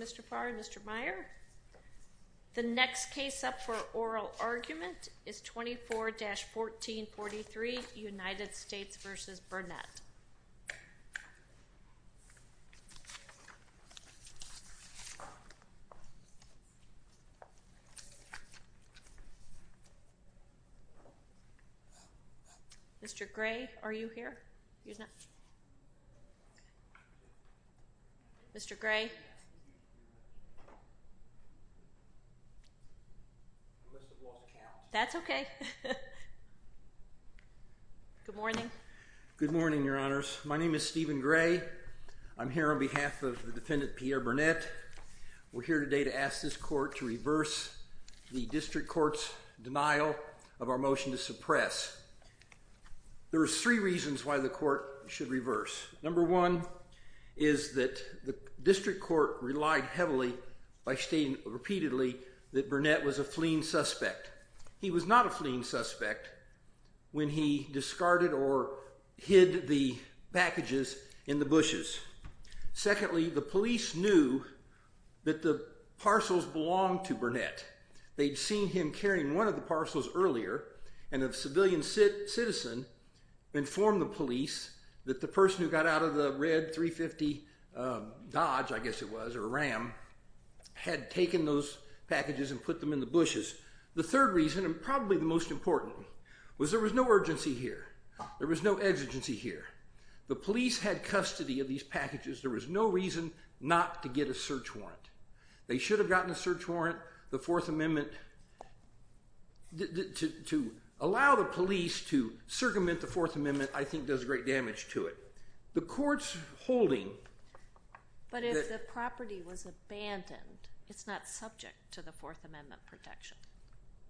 Mr. Farr and Mr. Meyer. The next case up for oral argument is 24-1443 United States v. Pierre Burnett. Mr. Gray, are you here? Mr. Gray? That's okay. Good morning. Good morning, Your Honors. My name is Stephen Gray. I'm here on behalf of the defendant, Pierre Burnett. We're here today to ask this court to reverse the district court's denial of our motion to suppress. There are three reasons why the court should reverse. Number one is that the district court relied heavily by stating repeatedly that Burnett was a fleeing suspect. He was not a fleeing suspect when he discarded or hid the packages in the bushes. Secondly, the police knew that the parcels belonged to Burnett. They'd seen him carrying one of the parcels earlier and a civilian citizen informed the police that the person who got out of the red 350 Dodge, I guess it was, or Ram, had taken those packages and put them in the bushes. The third reason, and probably the most important, was there was no urgency here. There was no exigency here. The police had custody of these packages. There was no reason not to get a search warrant. They should have gotten a search warrant. The Fourth Amendment, to allow the police to circumvent the Fourth Amendment, I think does great damage to it. The court's holding that... But if the property was abandoned, it's not subject to the Fourth Amendment protection.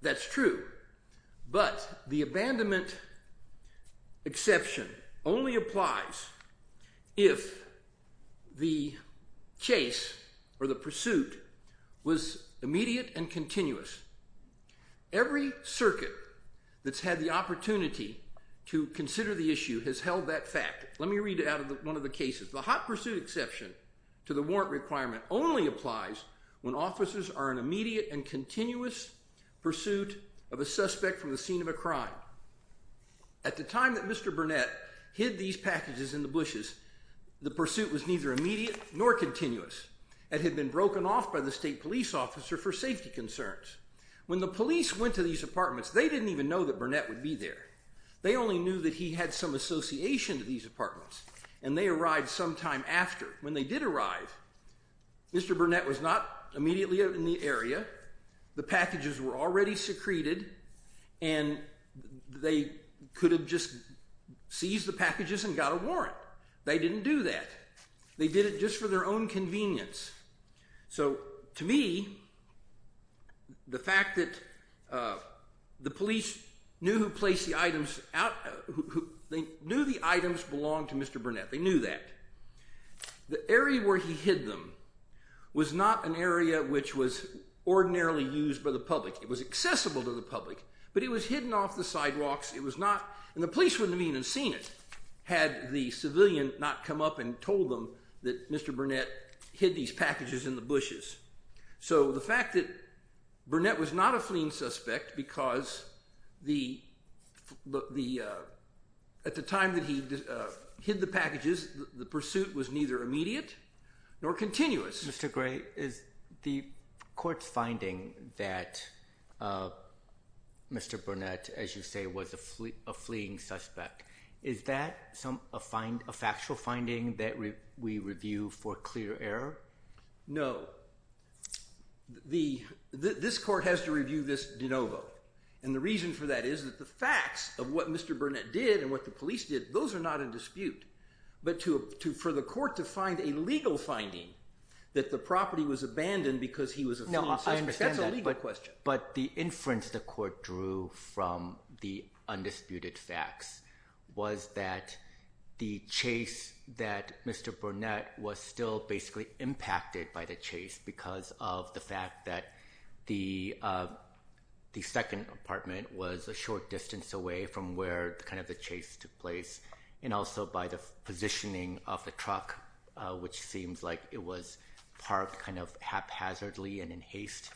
That's true. But the abandonment exception only applies if the chase or the pursuit was immediate and continuous. Every circuit that's had the opportunity to consider the issue has held that fact. Let me read it out of one of the cases. The hot pursuit exception to the warrant requirement only applies when officers are in immediate and continuous pursuit of a suspect from the scene of a crime. At the time that Mr. Burnett hid these packages in the bushes, the pursuit was neither immediate nor continuous, and had been broken off by the state police officer for safety concerns. When the police went to these apartments, they didn't even know that Burnett would be there. They only knew that he had some association to these apartments, and they arrived sometime after. When they did arrive, Mr. Burnett was not immediately out in the area. The packages were already secreted, and they could have just seized the packages and got a warrant. They didn't do that. They did it just for their own convenience. So to me, the fact that the police knew who placed the items out, they knew the items belonged to Mr. Burnett. They knew that. The area where he hid them was not an area which was ordinarily used by the public. It was accessible to the public, but it was hidden off the sidewalks. And the police wouldn't have even seen it had the civilian not come up and told them that Mr. Burnett hid these packages in the bushes. So the fact that Burnett was not a fleeing suspect because at the time that he hid the packages, the pursuit was neither immediate nor continuous. Mr. Gray, the court's finding that Mr. Burnett, as you say, was a fleeing suspect, is that a factual finding that we review for clear error? No. This court has to review this de novo. And the reason for that is that the facts of what Mr. Burnett did and what the police did, those are not in dispute. But for the court to find a legal finding that the property was abandoned because he was a fleeing suspect, that's a legal question. But the inference the court drew from the undisputed facts was that the chase that Mr. Burnett was still basically impacted by the chase because of the fact that the second apartment was a short distance away from where kind of the chase took place. And also by the positioning of the truck, which seems like it was parked kind of haphazardly and in haste.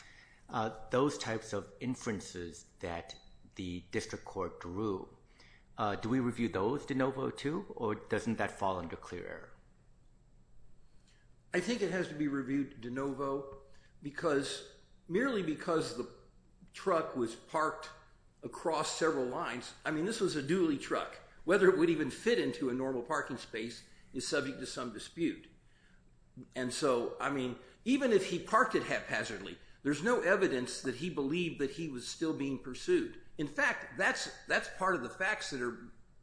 Those types of inferences that the district court drew, do we review those de novo too, or doesn't that fall under clear error? I think it has to be reviewed de novo because merely because the truck was parked across several lines, I mean this was a dually truck, whether it would even fit into a normal parking space is subject to some dispute. And so I mean even if he parked it haphazardly, there's no evidence that he believed that he was still being pursued. In fact, that's part of the facts that are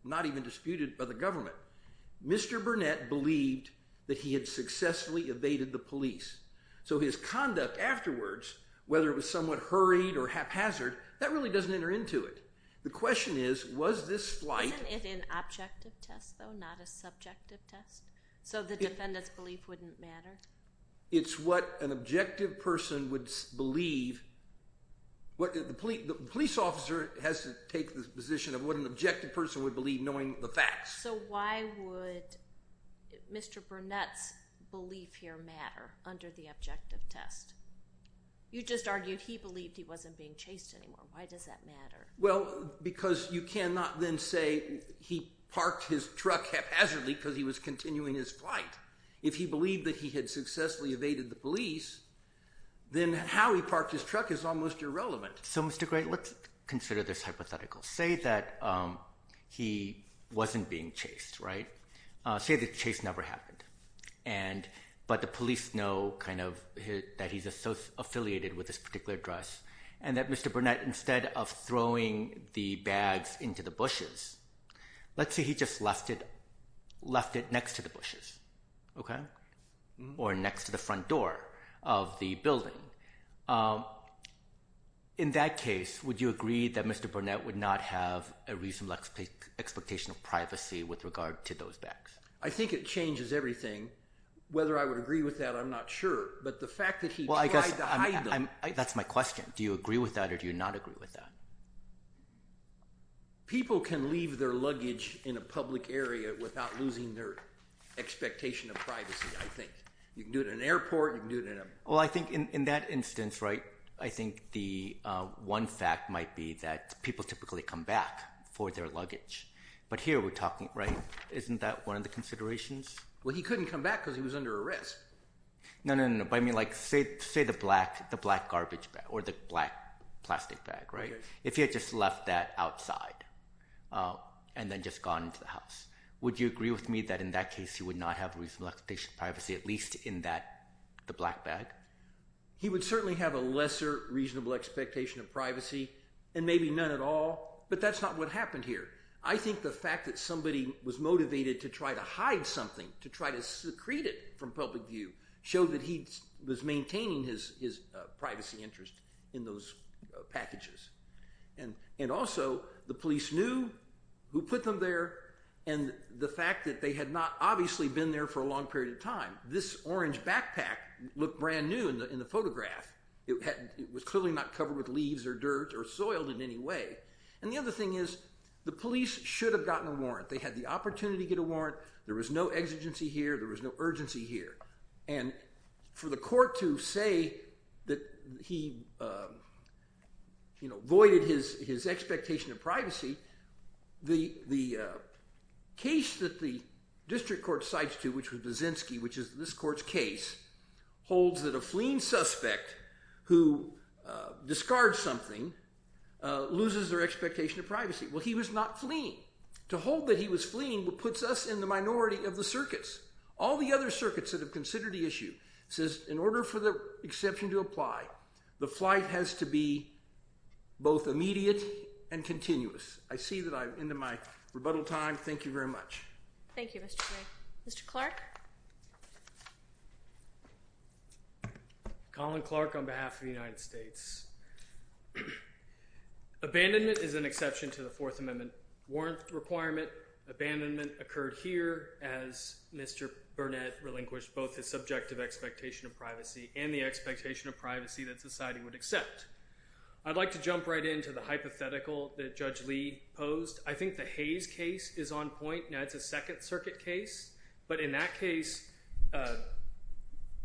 not even disputed by the government. Mr. Burnett believed that he had successfully evaded the police. So his conduct afterwards, whether it was somewhat hurried or haphazard, that really doesn't enter into it. The question is, was this flight- Was it an objective test, though, not a subjective test? So the defendant's belief wouldn't matter? It's what an objective person would believe. The police officer has to take the position of what an objective person would believe, knowing the facts. So why would Mr. Burnett's belief here matter under the objective test? You just argued he believed he wasn't being chased anymore. Why does that matter? Well, because you cannot then say he parked his truck haphazardly because he was continuing his flight. If he believed that he had successfully evaded the police, then how he parked his truck is almost irrelevant. So, Mr. Gray, let's consider this hypothetical. Say that he wasn't being chased, right? Say the chase never happened, but the police know that he's affiliated with this particular address, and that Mr. Burnett, instead of throwing the bags into the bushes, let's say he just left it next to the bushes, okay? Or next to the front door of the building. In that case, would you agree that Mr. Burnett would not have a reasonable expectation of privacy with regard to those bags? I think it changes everything. Whether I would agree with that, I'm not sure. But the fact that he tried to hide them- That's my question. Do you agree with that or do you not agree with that? People can leave their luggage in a public area without losing their expectation of privacy, I think. You can do it in an airport, you can do it in a- Well, I think in that instance, right, I think the one fact might be that people typically come back for their luggage. But here we're talking, right? Isn't that one of the considerations? Well, he couldn't come back because he was under arrest. No, no, no. Say the black garbage bag or the black plastic bag, right? If he had just left that outside and then just gone into the house, would you agree with me that in that case, he would not have reasonable expectation of privacy, at least in the black bag? He would certainly have a lesser reasonable expectation of privacy and maybe none at all, but that's not what happened here. I think the fact that somebody was motivated to try to hide something, to try to secrete it from public view, showed that he was maintaining his privacy interest in those packages. And also, the police knew who put them there and the fact that they had not obviously been there for a long period of time. This orange backpack looked brand new in the photograph. It was clearly not covered with leaves or dirt or soiled in any way. And the other thing is, the police should have gotten a warrant. They had the opportunity to get a warrant. There was no exigency here. There was no urgency here. And for the court to say that he, you know, voided his expectation of privacy, the case that the district court cites to, which was Baczynski, which is this court's case, holds that a fleeing suspect who discards something loses their expectation of privacy. Well, he was not fleeing. To hold that he was fleeing puts us in the minority of the circuits. All the other circuits that have considered the issue says, in order for the exception to apply, the flight has to be both immediate and continuous. I see that I'm into my rebuttal time. Thank you very much. Thank you, Mr. Gray. Mr. Clark. Colin Clark on behalf of the United States. Abandonment is an exception to the Fourth Amendment. Warrant requirement abandonment occurred here as Mr. Burnett relinquished both his subjective expectation of privacy and the expectation of privacy that society would accept. I'd like to jump right into the hypothetical that Judge Lee posed. I think the Hayes case is on point. Now, it's a Second Circuit case. But in that case,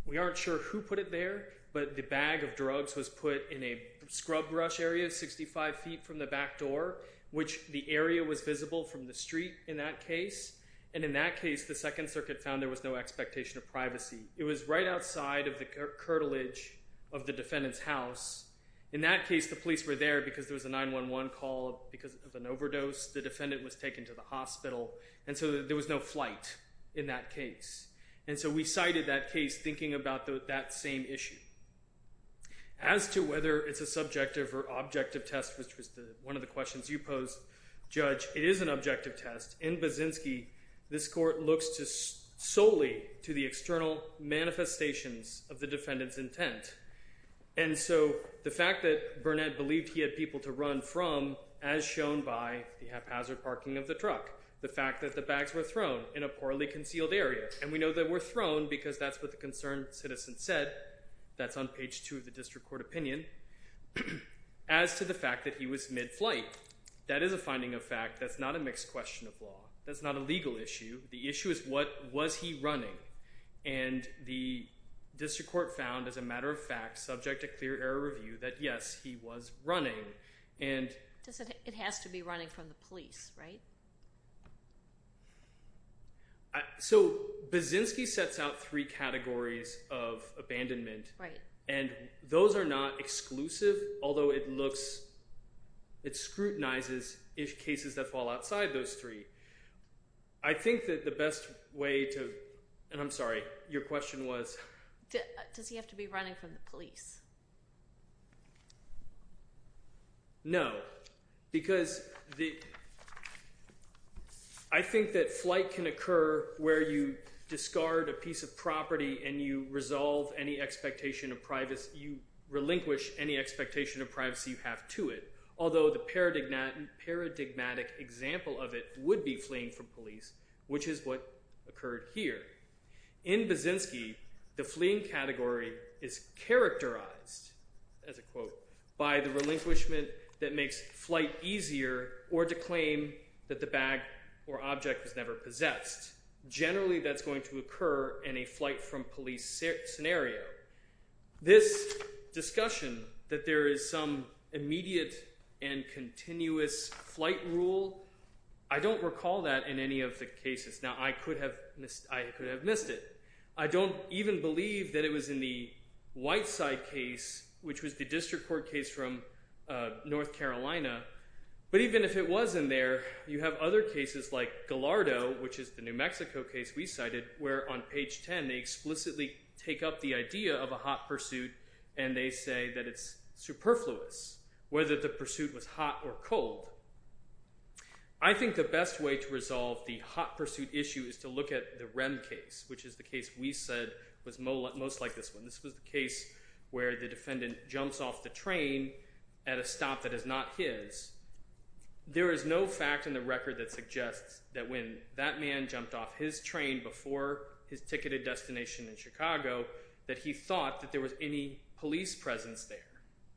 we aren't sure who put it there. But the bag of drugs was put in a scrub brush area 65 feet from the back door, which the area was visible from the street in that case. And in that case, the Second Circuit found there was no expectation of privacy. It was right outside of the curtilage of the defendant's house. In that case, the police were there because there was a 911 call because of an overdose. The defendant was taken to the hospital. And so there was no flight in that case. And so we cited that case thinking about that same issue. As to whether it's a subjective or objective test, one of the questions you posed, Judge, it is an objective test. In Baczynski, this court looks solely to the external manifestations of the defendant's intent. And so the fact that Burnett believed he had people to run from, as shown by the haphazard parking of the truck, the fact that the bags were thrown in a poorly concealed area. And we know they were thrown because that's what the concerned citizen said. That's on page two of the district court opinion. And as to the fact that he was mid-flight, that is a finding of fact. That's not a mixed question of law. That's not a legal issue. The issue is what was he running. And the district court found, as a matter of fact, subject to clear error review, that yes, he was running. And it has to be running from the police, right? So Baczynski sets out three categories of abandonment. And those are not exclusive, although it looks, it scrutinizes cases that fall outside those three. I think that the best way to, and I'm sorry, your question was? Does he have to be running from the police? No, because I think that flight can occur where you discard a piece of property and you resolve any expectation of privacy, you relinquish any expectation of privacy you have to it. Although the paradigmatic example of it would be fleeing from police, which is what occurred here. In Baczynski, the fleeing category is characterized, as a quote, by the relinquishment that makes flight easier or to claim that the bag or object was never possessed. Generally, that's going to occur in a flight from police scenario. This discussion that there is some immediate and continuous flight rule, I don't recall that in any of the cases. Now, I could have missed it. I don't even believe that it was in the Whiteside case, which was the district court case from North Carolina. But even if it was in there, you have other cases like Gallardo, which is the New Mexico case we cited, where on page 10, they explicitly take up the idea of a hot pursuit and they say that it's superfluous, whether the pursuit was hot or cold. I think the best way to resolve the hot pursuit issue is to look at the Rem case, which is the case we said was most like this one. This was the case where the defendant jumps off the train at a stop that is not his. There is no fact in the record that suggests that when that man jumped off his train before his ticketed destination in Chicago, that he thought that there was any police presence there,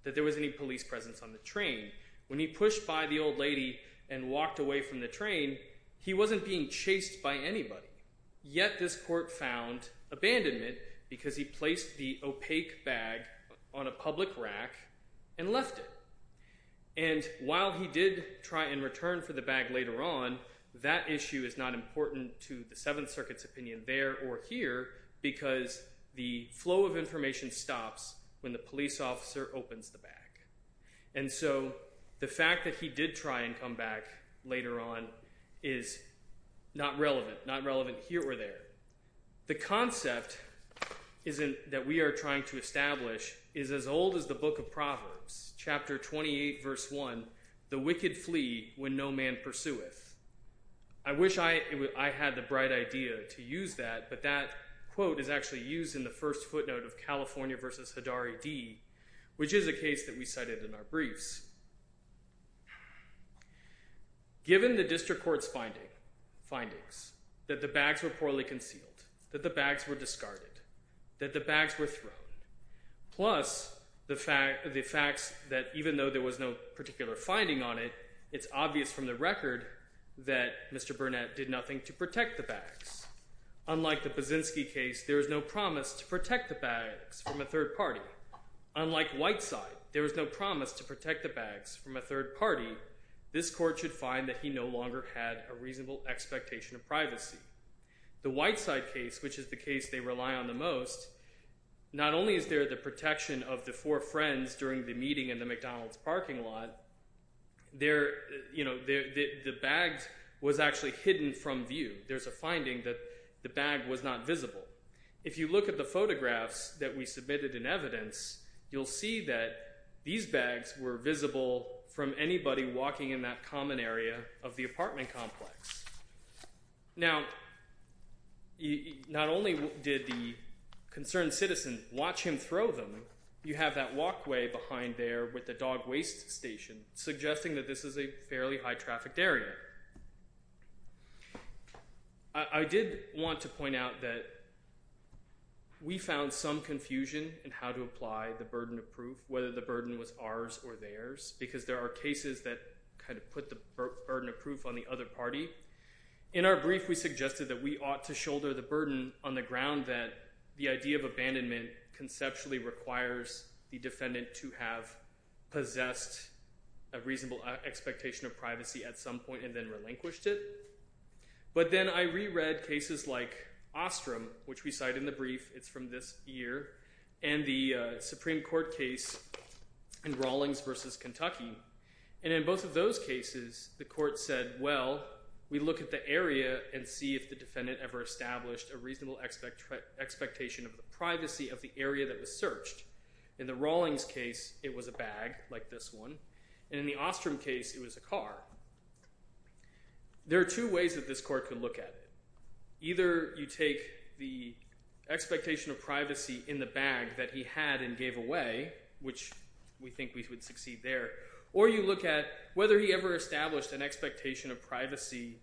that there was any police presence on the train. When he pushed by the old lady and walked away from the train, he wasn't being chased by anybody. Yet this court found abandonment because he placed the opaque bag on a public rack and left it. While he did try and return for the bag later on, that issue is not important to the Seventh Circuit's opinion there or here because the flow of information stops when the police officer opens the bag. The fact that he did try and come back later on is not relevant here or there. The concept that we are trying to establish is as old as the Book of Proverbs, chapter 28, verse 1, the wicked flee when no man pursueth. I wish I had the bright idea to use that, but that quote is actually used in the first footnote of California versus Hadari D, which is a case that we cited in our briefs. Given the district court's findings that the bags were poorly concealed, that the bags were discarded, that the bags were thrown, plus the fact that even though there was no particular finding on it, it's obvious from the record that Mr. Burnett did nothing to protect the bags. Unlike the Buszynski case, there was no promise to protect the bags from a third party. Unlike Whiteside, there was no promise to protect the bags from a third party. This court should find that he no longer had a reasonable expectation of privacy. The Whiteside case, which is the case they rely on the most, not only is there the protection of the four friends during the meeting in the McDonald's parking lot, the bags was actually hidden from view. There's a finding that the bag was not visible. If you look at the photographs that we submitted in evidence, you'll see that these bags were visible from anybody walking in that common area of the apartment complex. Now, not only did the concerned citizen watch him throw them, you have that walkway behind there with the dog waste station suggesting that this is a fairly high-trafficked area. I did want to point out that we found some confusion in how to apply the burden of proof, whether the burden was ours or theirs, because there are cases that kind of put the burden of proof on the other party, in our brief, we suggested that we ought to shoulder the burden on the ground that the idea of abandonment conceptually requires the defendant to have possessed a reasonable expectation of privacy at some point and then relinquished it. But then I reread cases like Ostrom, which we cite in the brief, it's from this year, and the Supreme Court case in Rawlings versus Kentucky. And in both of those cases, the court said, well, we look at the area and see if the defendant ever established a reasonable expectation of the privacy of the area that was searched. In the Rawlings case, it was a bag like this one. And in the Ostrom case, it was a car. There are two ways that this court could look at it. Either you take the expectation of privacy in the bag that he had and gave away, which we think we would succeed there, or you look at whether he ever established an expectation of privacy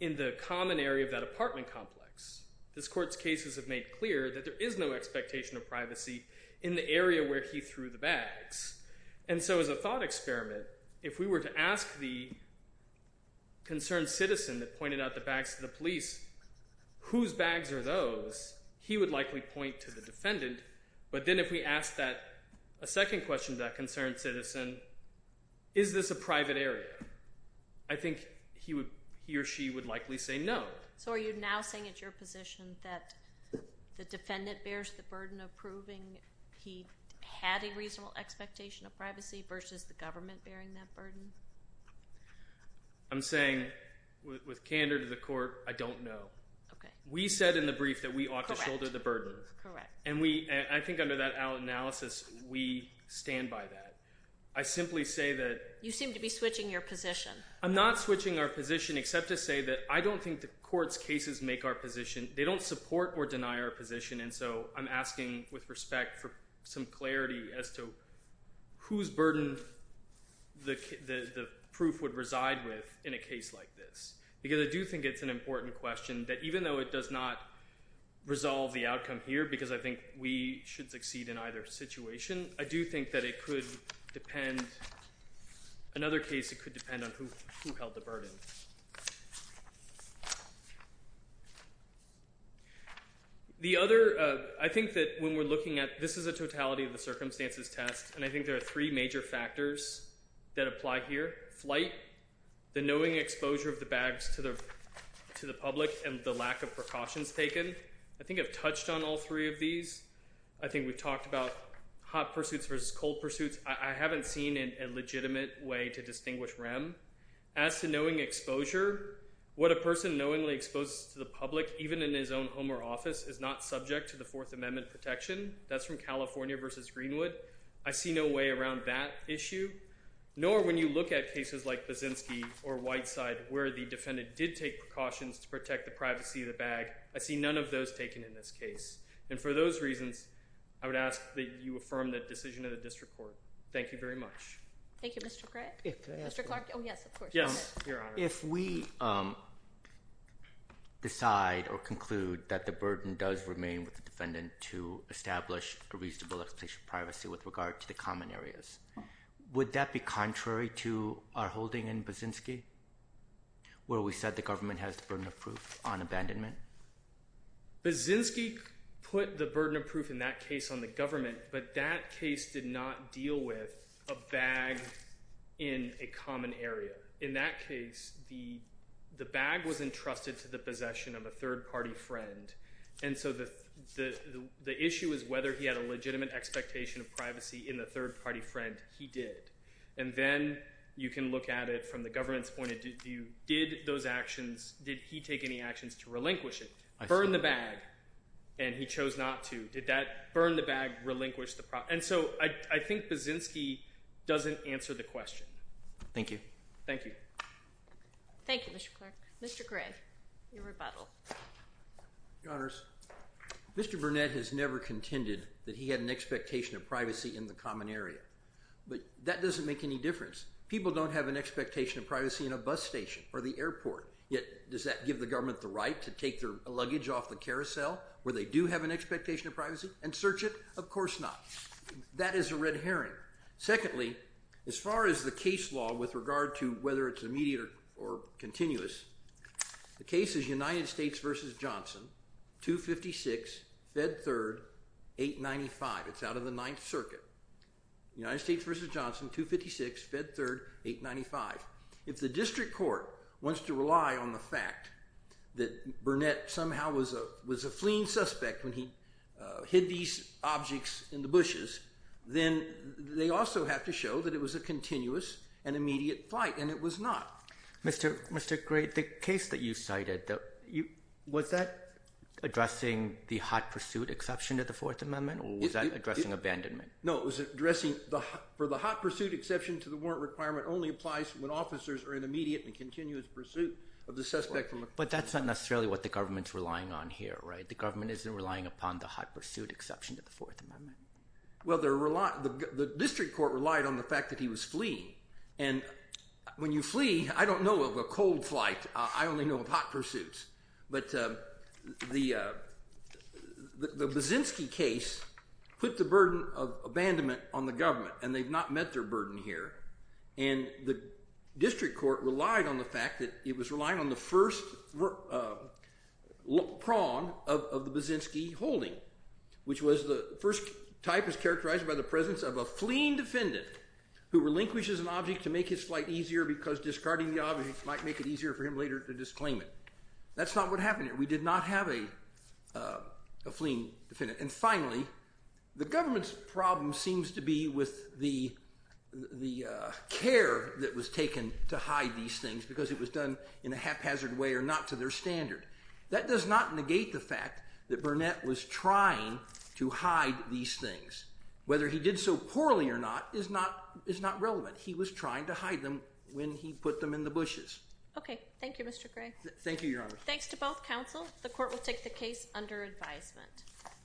in the common area of that apartment complex. This court's cases have made clear that there is no expectation of privacy in the area where he threw the bags. And so as a thought experiment, if we were to ask the concerned citizen that pointed out the bags to the police, whose bags are those? He would likely point to the defendant. But then if we asked a second question to that concerned citizen, is this a private area? I think he or she would likely say no. So are you now saying it's your position that the defendant bears the burden of proving he had a reasonable expectation of privacy versus the government bearing that burden? I'm saying with candor to the court, I don't know. We said in the brief that we ought to shoulder the burden. Correct. And I think under that analysis, we stand by that. I simply say that— You seem to be switching your position. I'm not switching our position except to say that I don't think the court's cases make our position. They don't support or deny our position. And so I'm asking with respect for some clarity as to whose burden the proof would reside with in a case like this. Because I do think it's an important question that even though it does not resolve the outcome here, because I think we should succeed in either situation, I do think that it could depend— another case, it could depend on who held the burden. The other—I think that when we're looking at— this is a totality of the circumstances test, and I think there are three major factors that apply here. Flight, the knowing exposure of the bags to the public, and the lack of precautions taken. I think I've touched on all three of these. I think we've talked about hot pursuits versus cold pursuits. I haven't seen a legitimate way to distinguish REM. As to knowing exposure, what a person knowingly exposes to the public, even in his own home or office, is not subject to the Fourth Amendment protection. That's from California versus Greenwood. I see no way around that issue. Nor when you look at cases like Baczynski or Whiteside, where the defendant did take precautions to protect the privacy of the bag, I see none of those taken in this case. And for those reasons, I would ask that you affirm the decision of the district court. Thank you very much. Thank you. Mr. Gregg? If I could ask— Mr. Clark? Oh, yes, of course. Yes, Your Honor. If we decide or conclude that the burden does remain with the defendant to establish a reasonable explicit privacy with regard to the common areas, would that be contrary to our holding in Baczynski? Where we said the government has the burden of proof on abandonment? Baczynski put the burden of proof in that case on the government, but that case did not deal with a bag in a common area. In that case, the bag was entrusted to the possession of a third-party friend. And so the issue is whether he had a legitimate expectation of privacy in the third-party friend. He did. And then you can look at it from the government's point of view. Did those actions—did he take any actions to relinquish it? Burn the bag, and he chose not to. Did that burn the bag, relinquish the— And so I think Baczynski doesn't answer the question. Thank you. Thank you. Thank you, Mr. Clark. Mr. Grigg, your rebuttal. Your Honors, Mr. Burnett has never contended that he had an expectation of privacy in the common area. But that doesn't make any difference. People don't have an expectation of privacy in a bus station or the airport, yet does that give the government the right to take their luggage off the carousel where they do have an expectation of privacy and search it? Of course not. That is a red herring. Secondly, as far as the case law with regard to whether it's immediate or continuous, the case is United States v. Johnson, 256, Fed Third, 895. It's out of the Ninth Circuit. United States v. Johnson, 256, Fed Third, 895. If the district court wants to rely on the fact that Burnett somehow was a fleeing suspect when he hid these objects in the bushes, then they also have to show that it was a continuous and immediate flight, and it was not. Mr. Grigg, the case that you cited, was that addressing the hot pursuit exception to the Fourth Amendment, or was that addressing abandonment? No, it was addressing for the hot pursuit exception to the warrant requirement only applies when officers are in immediate and continuous pursuit of the suspect. But that's not necessarily what the government's relying on here, right? The government isn't relying upon the hot pursuit exception to the Fourth Amendment. Well, the district court relied on the fact that he was fleeing. And when you flee, I don't know of a cold flight. I only know of hot pursuits. But the Baczynski case put the burden of abandonment on the government, and they've not met their burden here. And the district court relied on the fact that it was relying on the first prong of the Baczynski holding, which was the first type is characterized by the presence of a fleeing defendant who relinquishes an object to make his flight easier because discarding the object might make it easier for him later to disclaim it. That's not what happened here. We did not have a fleeing defendant. And finally, the government's problem seems to be with the care that was taken to hide these things because it was done in a haphazard way or not to their standard. That does not negate the fact that Burnett was trying to hide these things. Whether he did so poorly or not is not relevant. He was trying to hide them when he put them in the bushes. OK. Thank you, Mr. Gray. Thank you, Your Honor. Thanks to both counsel. The court will take the case under advisement.